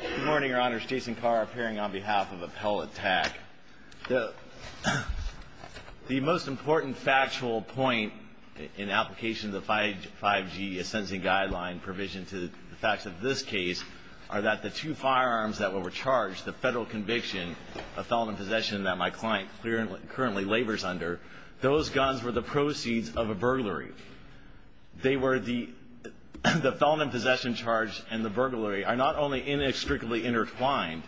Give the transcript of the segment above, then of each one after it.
Good morning, your honors. Jason Carr, appearing on behalf of Appellate TAC. The most important factual point in application of the 5G sentencing guideline provision to the facts of this case are that the two firearms that were charged, the federal conviction of felon in possession that my client currently labors under, those guns were the proceeds of a burglary. They were the felon in possession charge and the burglary are not only inextricably intertwined.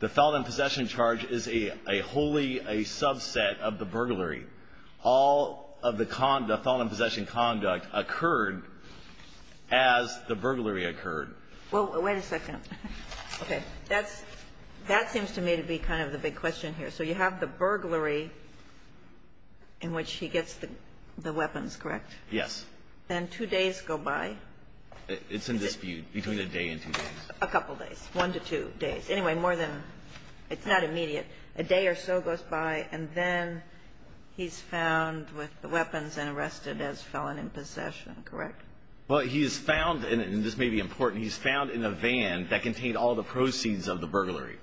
The felon in possession charge is a wholly a subset of the burglary. All of the felon in possession conduct occurred as the burglary occurred. Well, wait a second. Okay. That seems to me to be kind of the big question here. So you have the burglary in which he gets the weapons, correct? Yes. And two days go by? It's in dispute between a day and two days. A couple days. One to two days. Anyway, more than, it's not immediate. A day or so goes by and then he's found with the weapons and arrested as felon in possession, correct? Well, he's found, and this may be important, he's found in a van that contained all the proceeds of the burglary,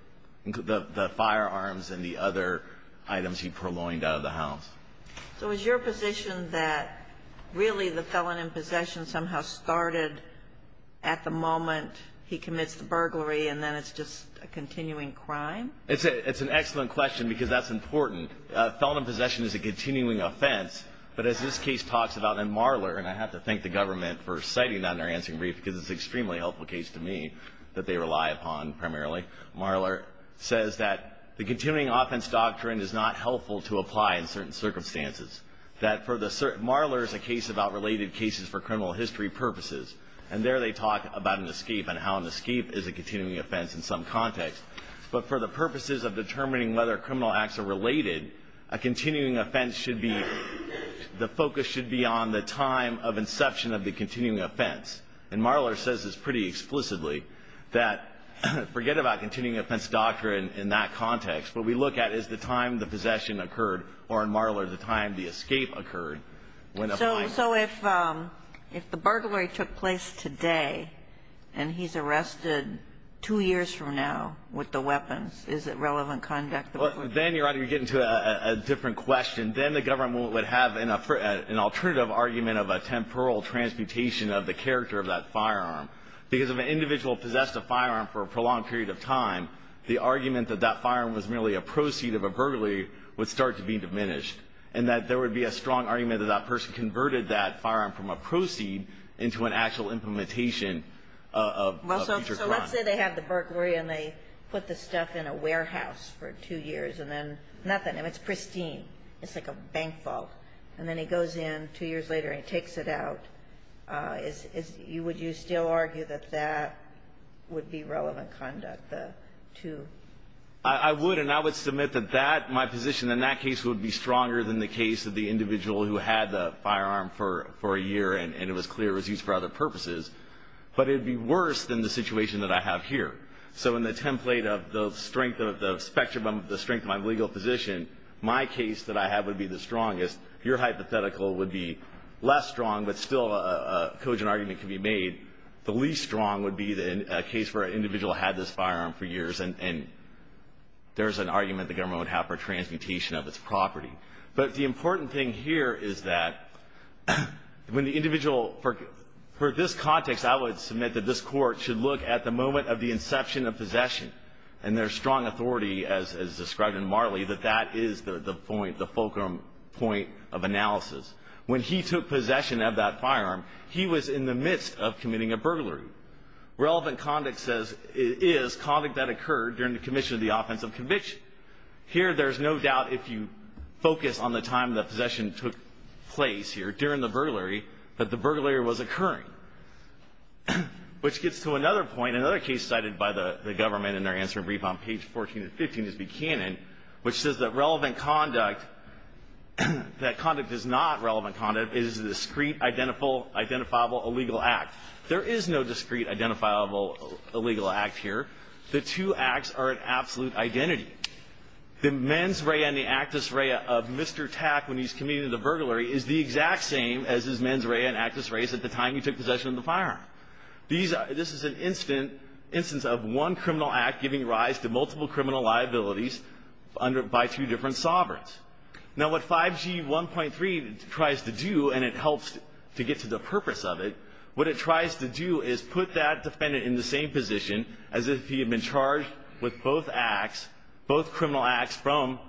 the firearms and the other items he purloined out of the house. So is your position that really the felon in possession somehow started at the moment he commits the burglary and then it's just a continuing crime? It's an excellent question because that's important. Felon in possession is a continuing offense, but as this case talks about, and Marler, and I have to thank the government for citing that in their answering brief because it's an extremely helpful case to me that they rely upon primarily. Marler says that the continuing offense doctrine is not helpful to apply in certain circumstances. Marler is a case about related cases for criminal history purposes, and there they talk about an escape and how an escape is a continuing offense in some context. But for the purposes of determining whether criminal acts are related, a continuing offense should be, the focus should be on the time of inception of the continuing offense. And Marler says this pretty explicitly, that forget about continuing offense doctrine in that context. What we look at is the time the possession occurred or, in Marler, the time the escape occurred. So if the burglary took place today and he's arrested two years from now with the weapons, is it relevant conduct? Then, Your Honor, you're getting to a different question. Then the government would have an alternative argument of a temporal transmutation of the character of that firearm. Because if an individual possessed a firearm for a prolonged period of time, the argument that that firearm was merely a proceed of a burglary would start to be diminished and that there would be a strong argument that that person converted that firearm from a proceed into an actual implementation of future crime. So let's say they have the burglary and they put the stuff in a warehouse for two years and then nothing. I mean, it's pristine. It's like a bank vault. And then he goes in two years later and he takes it out. Would you still argue that that would be relevant conduct, the two? I would, and I would submit that that, my position in that case, would be stronger than the case of the individual who had the firearm for a year and it was clear it was used for other purposes. But it would be worse than the situation that I have here. So in the template of the strength of the spectrum of the strength of my legal position, my case that I have would be the strongest. Your hypothetical would be less strong, but still a cogent argument can be made. The least strong would be a case where an individual had this firearm for years and there's an argument the government would have for transmutation of its property. But the important thing here is that when the individual, for this context, I would submit that this court should look at the moment of the inception of possession and there's strong authority, as described in Marley, that that is the fulcrum point of analysis. When he took possession of that firearm, he was in the midst of committing a burglary. Relevant conduct is conduct that occurred during the commission of the offensive conviction. Here there's no doubt if you focus on the time the possession took place here, during the burglary, that the burglary was occurring. Which gets to another point, another case cited by the government in their answering brief on page 14 and 15 of the canon, which says that relevant conduct, that conduct is not relevant conduct, it is a discreet, identifiable, illegal act. There is no discreet, identifiable, illegal act here. The two acts are an absolute identity. The mens rea and the actus rea of Mr. Tack when he's committing the burglary is the exact same as his mens rea and actus reas at the time he took possession of the firearm. This is an instance of one criminal act giving rise to multiple criminal liabilities by two different sovereigns. Now what 5G 1.3 tries to do, and it helps to get to the purpose of it, what it tries to do is put that defendant in the same position as if he had been charged with both criminal acts from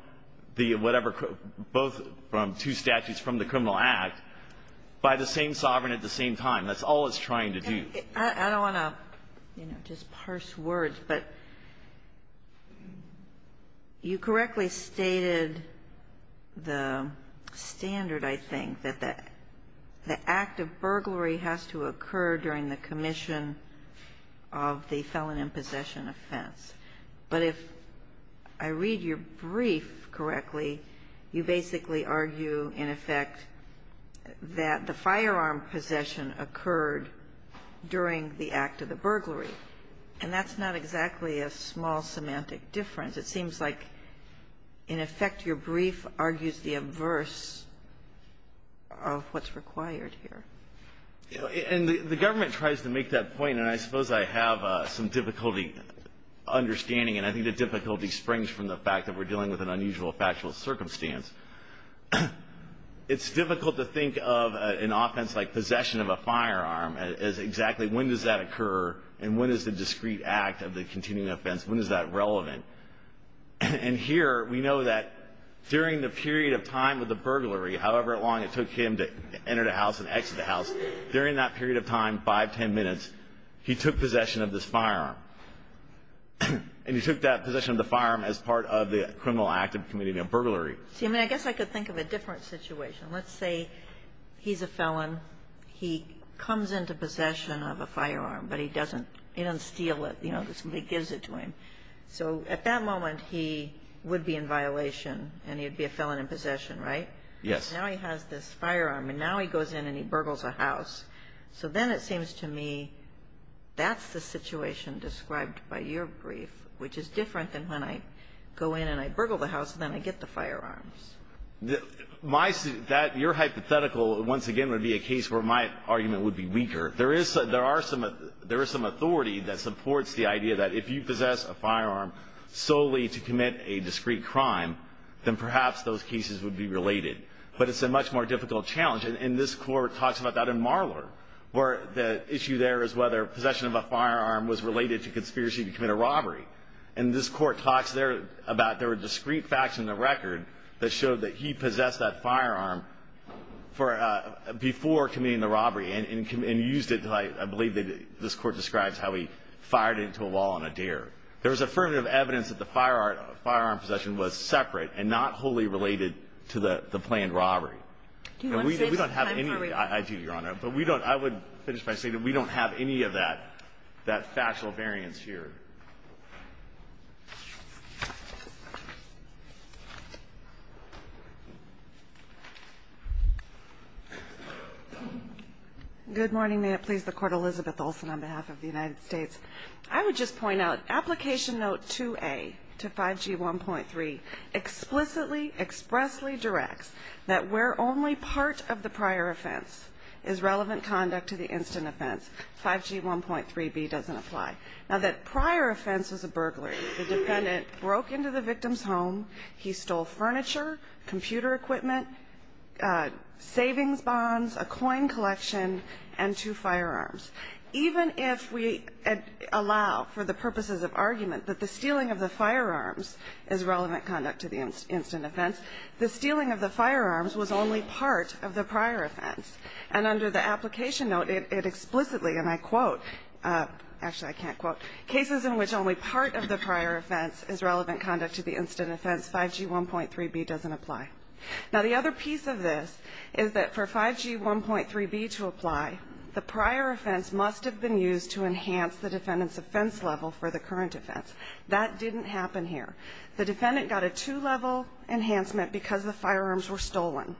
two statutes from the criminal act by the same sovereign at the same time. That's all it's trying to do. I don't want to just parse words, but you correctly stated the standard, I think, that the act of burglary has to occur during the commission of the felon in possession offense, but if I read your brief correctly, you basically argue, in effect, that the firearm possession occurred during the act of the burglary. And that's not exactly a small semantic difference. It seems like, in effect, your brief argues the averse of what's required here. And the government tries to make that point, and I suppose I have some difficulty understanding, and I think the difficulty springs from the fact that we're dealing with an unusual factual circumstance. It's difficult to think of an offense like possession of a firearm as exactly when does that occur and when is the discrete act of the continuing offense, when is that relevant. And here we know that during the period of time of the burglary, however long it took him to enter the house and exit the house, during that period of time, 5, 10 minutes, he took possession of this firearm. And he took that possession of the firearm as part of the criminal act of committing a burglary. See, I mean, I guess I could think of a different situation. Let's say he's a felon. He comes into possession of a firearm, but he doesn't steal it, you know, somebody gives it to him. So at that moment, he would be in violation and he would be a felon in possession, right? Yes. Now he has this firearm, and now he goes in and he burgles a house. So then it seems to me that's the situation described by your brief, which is different than when I go in and I burgle the house and then I get the firearms. Your hypothetical, once again, would be a case where my argument would be weaker. There is some authority that supports the idea that if you possess a firearm solely to commit a discrete crime, then perhaps those cases would be related. But it's a much more difficult challenge. And this Court talks about that in Marlor, where the issue there is whether possession of a firearm was related to conspiracy to commit a robbery. And this Court talks there about there were discrete facts in the record that showed that he possessed that firearm before committing the robbery and used it, I believe, this Court describes how he fired it into a wall on a deer. There was affirmative evidence that the firearm possession was separate and not wholly related to the planned robbery. Do you want to say it's time for a rebate? I do, Your Honor. But I would finish by saying that we don't have any of that factual variance here. Good morning. May it please the Court. Elizabeth Olsen on behalf of the United States. I would just point out application note 2A to 5G1.3 explicitly, expressly directs that where only part of the prior offense is relevant conduct to the instant offense, 5G1.3b doesn't apply. Now, that prior offense was a burglary. The defendant broke into the victim's home. He stole furniture, computer equipment, savings bonds, a coin collection, and two firearms. Even if we allow for the purposes of argument that the stealing of the firearms is relevant conduct to the instant offense, the stealing of the firearms was only part of the prior offense. And under the application note, it explicitly, and I quote, actually I can't quote, cases in which only part of the prior offense is relevant conduct to the instant offense, 5G1.3b doesn't apply. Now, the other piece of this is that for 5G1.3b to apply, the prior offense must have been used to enhance the defendant's offense level for the current offense. That didn't happen here. The defendant got a two-level enhancement because the firearms were stolen.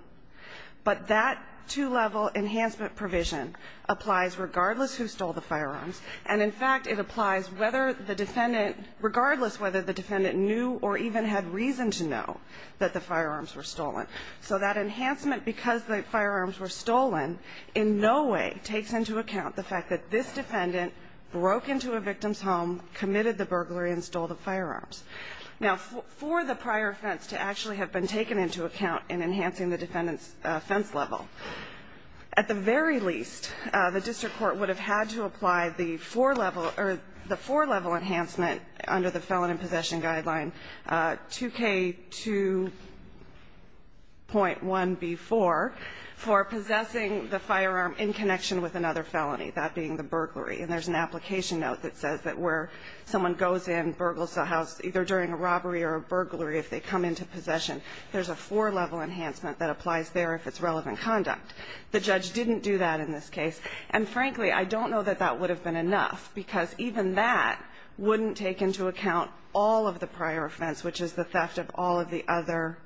But that two-level enhancement provision applies regardless who stole the firearms, and in fact, it applies whether the defendant, regardless whether the defendant knew or even had reason to know that the firearms were stolen. So that enhancement, because the firearms were stolen, in no way takes into account the fact that this defendant broke into a victim's home, committed the burglary, and stole the firearms. Now, for the prior offense to actually have been taken into account in enhancing the defendant's offense level, at the very least, the district court would have had to apply the four-level enhancement under the Felony Possession Guideline 2K2.1b4 for possessing the firearm in connection with another felony, that being the burglary. And there's an application note that says that where someone goes in, burgles the house, either during a robbery or a burglary, if they come into possession, there's a four-level enhancement that applies there if it's relevant conduct. The judge didn't do that in this case. And frankly, I don't know that that would have been enough, because even that wouldn't take into account all of the prior offense, which is the theft of all of the other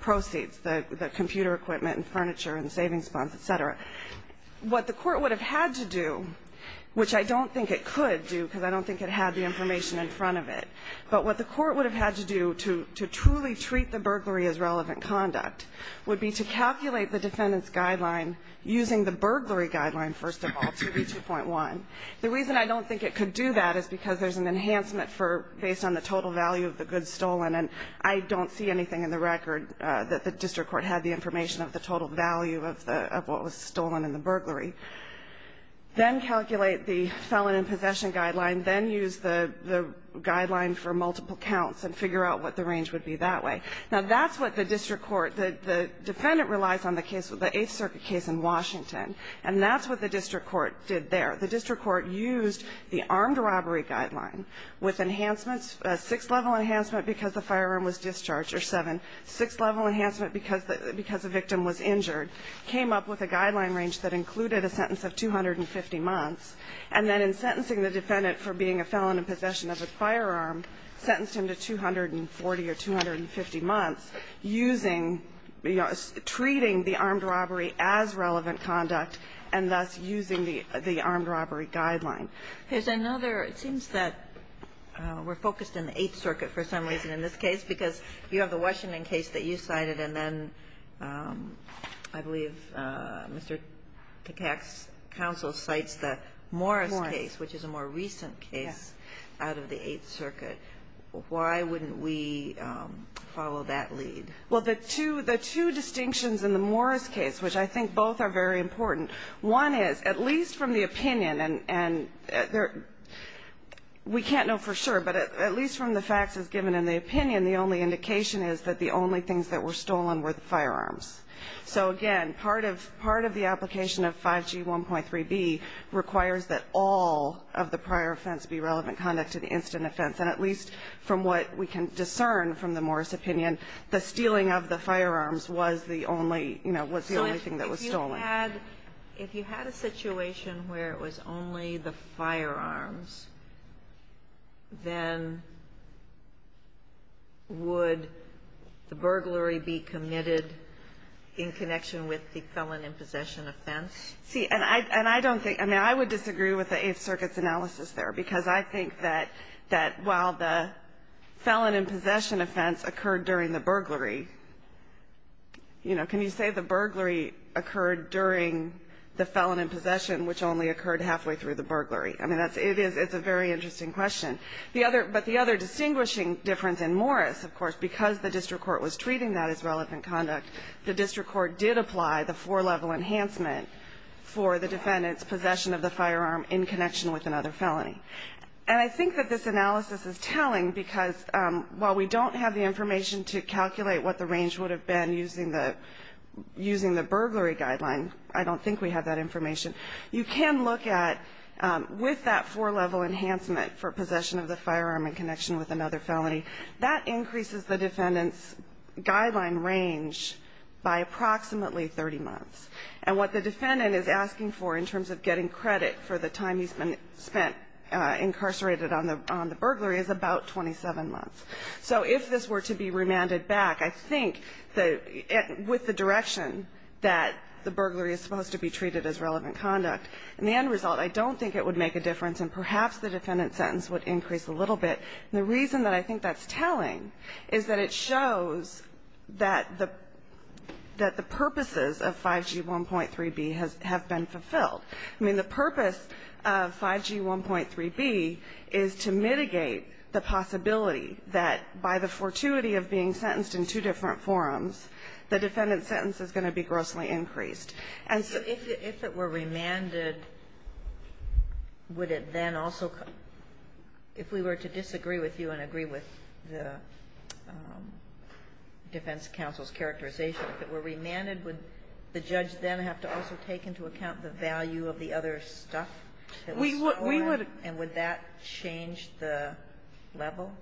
proceeds, the computer equipment and furniture and savings funds, et cetera. What the Court would have had to do, which I don't think it could do because I don't think it had the information in front of it, but what the Court would have had to do to truly treat the burglary as relevant conduct would be to calculate the defendant's guideline using the burglary guideline, first of all, 2B2.1. The reason I don't think it could do that is because there's an enhancement based on the total value of the goods stolen, and I don't see anything in the record that the district court had the information of the total value of what was stolen in the burglary. Then calculate the felon in possession guideline. Then use the guideline for multiple counts and figure out what the range would be that way. Now, that's what the district court, the defendant relies on the case, the Eighth Circuit case in Washington, and that's what the district court did there. The district court used the armed robbery guideline with enhancements, six-level enhancement because the firearm was discharged, or seven, six-level enhancement because the victim was injured, came up with a guideline range that included a sentence of 250 months, and then in sentencing the defendant for being a felon in possession of a firearm, sentenced him to 240 or 250 months using, you know, treating the armed robbery as relevant conduct and thus using the armed robbery guideline. There's another, it seems that we're focused in the Eighth Circuit for some reason in this case, because you have the Washington case that you cited, and then I believe Mr. Tkach's counsel cites the Morris case, which is a more recent case out of the Eighth Circuit. Why wouldn't we follow that lead? Well, the two distinctions in the Morris case, which I think both are very important, one is, at least from the opinion, and we can't know for sure, but at least from the opinion, the only indication is that the only things that were stolen were the firearms. So, again, part of the application of 5G 1.3b requires that all of the prior offense be relevant conduct and instant offense, and at least from what we can discern from the Morris opinion, the stealing of the firearms was the only, you know, was the only thing that was stolen. If you had a situation where it was only the firearms, then would the burglary be committed in connection with the felon in possession offense? See, and I don't think, I mean, I would disagree with the Eighth Circuit's analysis there, because I think that while the felon in possession offense occurred during the burglary, you know, can you say the burglary occurred during the felon in possession, which only occurred halfway through the burglary? I mean, that's, it is, it's a very interesting question. The other, but the other distinguishing difference in Morris, of course, because the district court was treating that as relevant conduct, the district court did apply the four-level enhancement for the defendant's possession of the firearm in connection with another felony. And I think that this analysis is telling, because while we don't have the information to calculate what the range would have been using the burglary guideline, I don't think we have that information, you can look at, with that four-level enhancement for possession of the firearm in connection with another felony, that increases the defendant's guideline range by approximately 30 months. And what the defendant is asking for in terms of getting credit for the time he's been spent incarcerated on the burglary is about 27 months. So if this were to be remanded back, I think that with the direction that the burglary is supposed to be treated as relevant conduct, in the end result, I don't think it would make a difference, and perhaps the defendant's sentence would increase a little bit. And the reason that I think that's telling is that it shows that the purposes of 5G1.3b have been fulfilled. I mean, the purpose of 5G1.3b is to mitigate the possibility that by the fortuity of being sentenced in two different forums, the defendant's sentence is going to be grossly increased. And so if it were remanded, would it then also come? If we were to disagree with you and agree with the defense counsel's characterization, if it were remanded, would the judge then have to also take into account the value of the other stuff that was stolen, and would that change the level?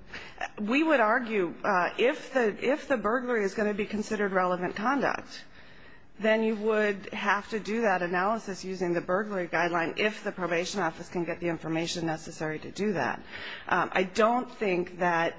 We would argue, if the burglary is going to be considered relevant conduct, then we would have to do that analysis using the burglary guideline if the probation office can get the information necessary to do that. I don't think that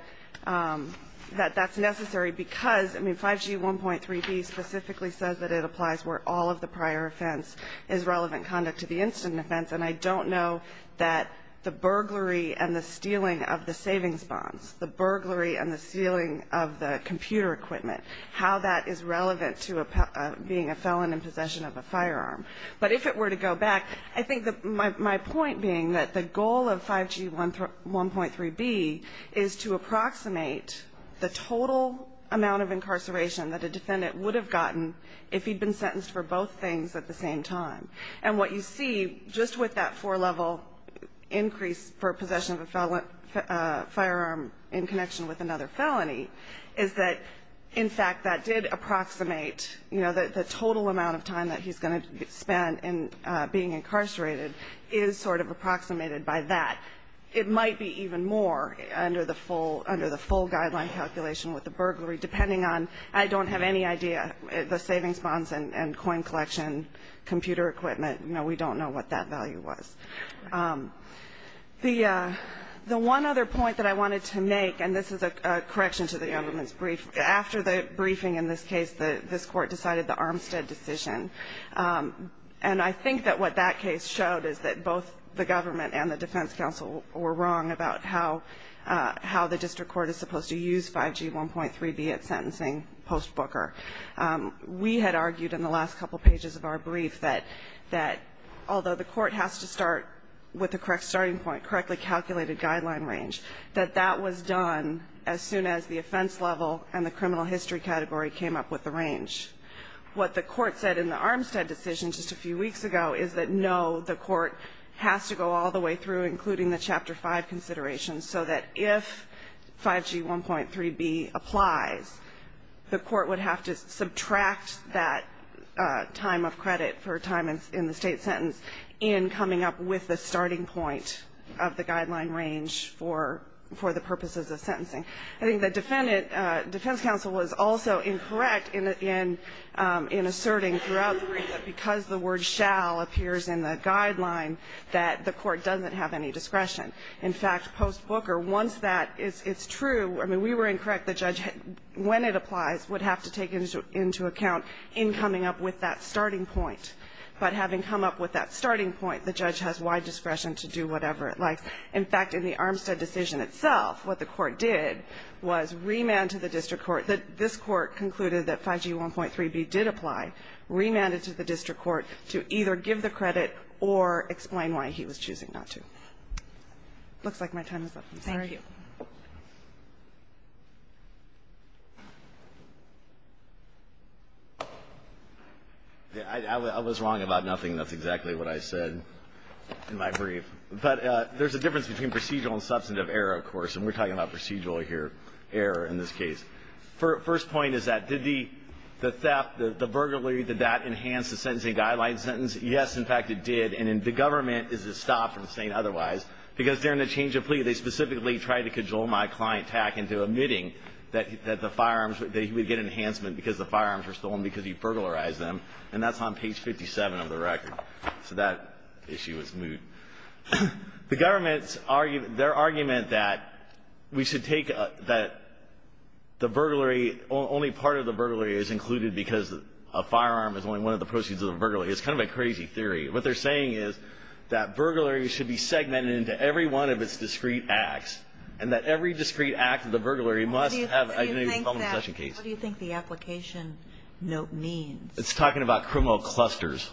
that's necessary because, I mean, 5G1.3b specifically says that it applies where all of the prior offense is relevant conduct to the incident offense, and I don't know that the burglary and the stealing of the savings bonds, the burglary and the stealing of the computer equipment, how that is relevant to being a felon in possession of a firearm. But if it were to go back, I think that my point being that the goal of 5G1.3b is to approximate the total amount of incarceration that a defendant would have gotten if he'd been sentenced for both things at the same time. And what you see, just with that four-level increase for possession of a firearm in connection with another felony, is that, in fact, that did approximate the total amount of time that he's going to spend being incarcerated is sort of approximated by that. It might be even more under the full guideline calculation with the burglary, depending on, I don't have any idea, the savings bonds and coin collection, computer equipment. We don't know what that value was. The one other point that I wanted to make, and this is a correction to the gentleman's brief. After the briefing in this case, this Court decided the Armstead decision. And I think that what that case showed is that both the government and the defense counsel were wrong about how the district court is supposed to use 5G1.3b at sentencing post-Booker. We had argued in the last couple pages of our brief that although the Court has to start with the correct starting point, correctly calculated guideline range, that that was done as soon as the offense level and the criminal history category came up with the range. What the Court said in the Armstead decision just a few weeks ago is that, no, the Court has to go all the way through, including the Chapter 5 considerations, so that if 5G1.3b applies, the Court would have to subtract that time of credit for time in the State sentence in coming up with the starting point of the guideline range for the purposes of sentencing. I think the defense counsel was also incorrect in asserting throughout the brief that because the word shall appears in the guideline, that the Court doesn't have any discretion. In fact, post-Booker, once that is true, I mean, we were incorrect. The judge, when it applies, would have to take into account in coming up with that starting point, the judge has wide discretion to do whatever it likes. In fact, in the Armstead decision itself, what the Court did was remand to the district court that this Court concluded that 5G1.3b did apply, remanded to the district court to either give the credit or explain why he was choosing not to. It looks like my time is up. I'm sorry. Thank you. I was wrong about nothing. That's exactly what I said in my brief. But there's a difference between procedural and substantive error, of course. And we're talking about procedural here, error in this case. First point is that did the theft, the burglary, did that enhance the sentencing guideline sentence? Yes, in fact, it did. And the government is to stop from saying otherwise because during the change of plea, they specifically tried to cajole my client, Tack, into admitting that the firearms, that he would get enhancement because the firearms were stolen because he burglarized them. And that's on page 57 of the record. So that issue is moot. The government's argument, their argument that we should take the burglary, only part of the burglary is included because a firearm is only one of the proceeds of a burglary is kind of a crazy theory. What they're saying is that burglary should be segmented into every one of its discrete acts and that every discrete act of the burglary must have a unique possession case. What do you think the application note means? It's talking about criminal clusters.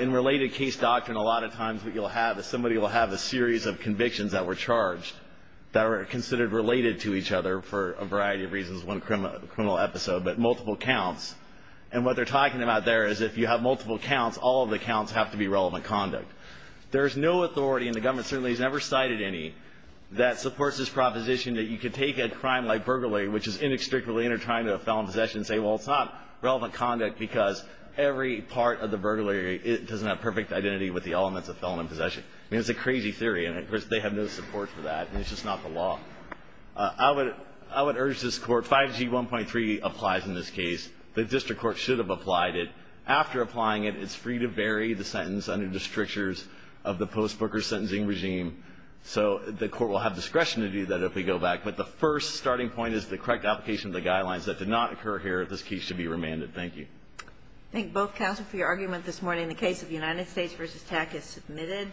In related case doctrine, a lot of times what you'll have is somebody will have a series of convictions that were charged that are considered related to each other for a variety of reasons, one criminal episode, but multiple counts. And what they're talking about there is if you have multiple counts, all of the counts should be relevant conduct. There's no authority, and the government certainly has never cited any, that supports this proposition that you could take a crime like burglary, which is inextricably intertwined to a felon in possession, and say, well, it's not relevant conduct because every part of the burglary doesn't have perfect identity with the elements of felon in possession. I mean, it's a crazy theory, and of course, they have no support for that, and it's just not the law. I would urge this Court, 5G1.3 applies in this case. The district court should have applied it. After applying it, it's free to bury the sentence under the strictures of the post-Booker sentencing regime. So the Court will have discretion to do that if we go back. But the first starting point is the correct application of the guidelines that did not occur here. This case should be remanded. Thank you. Thank both counsel for your argument this morning. The case of United States v. TAC is submitted.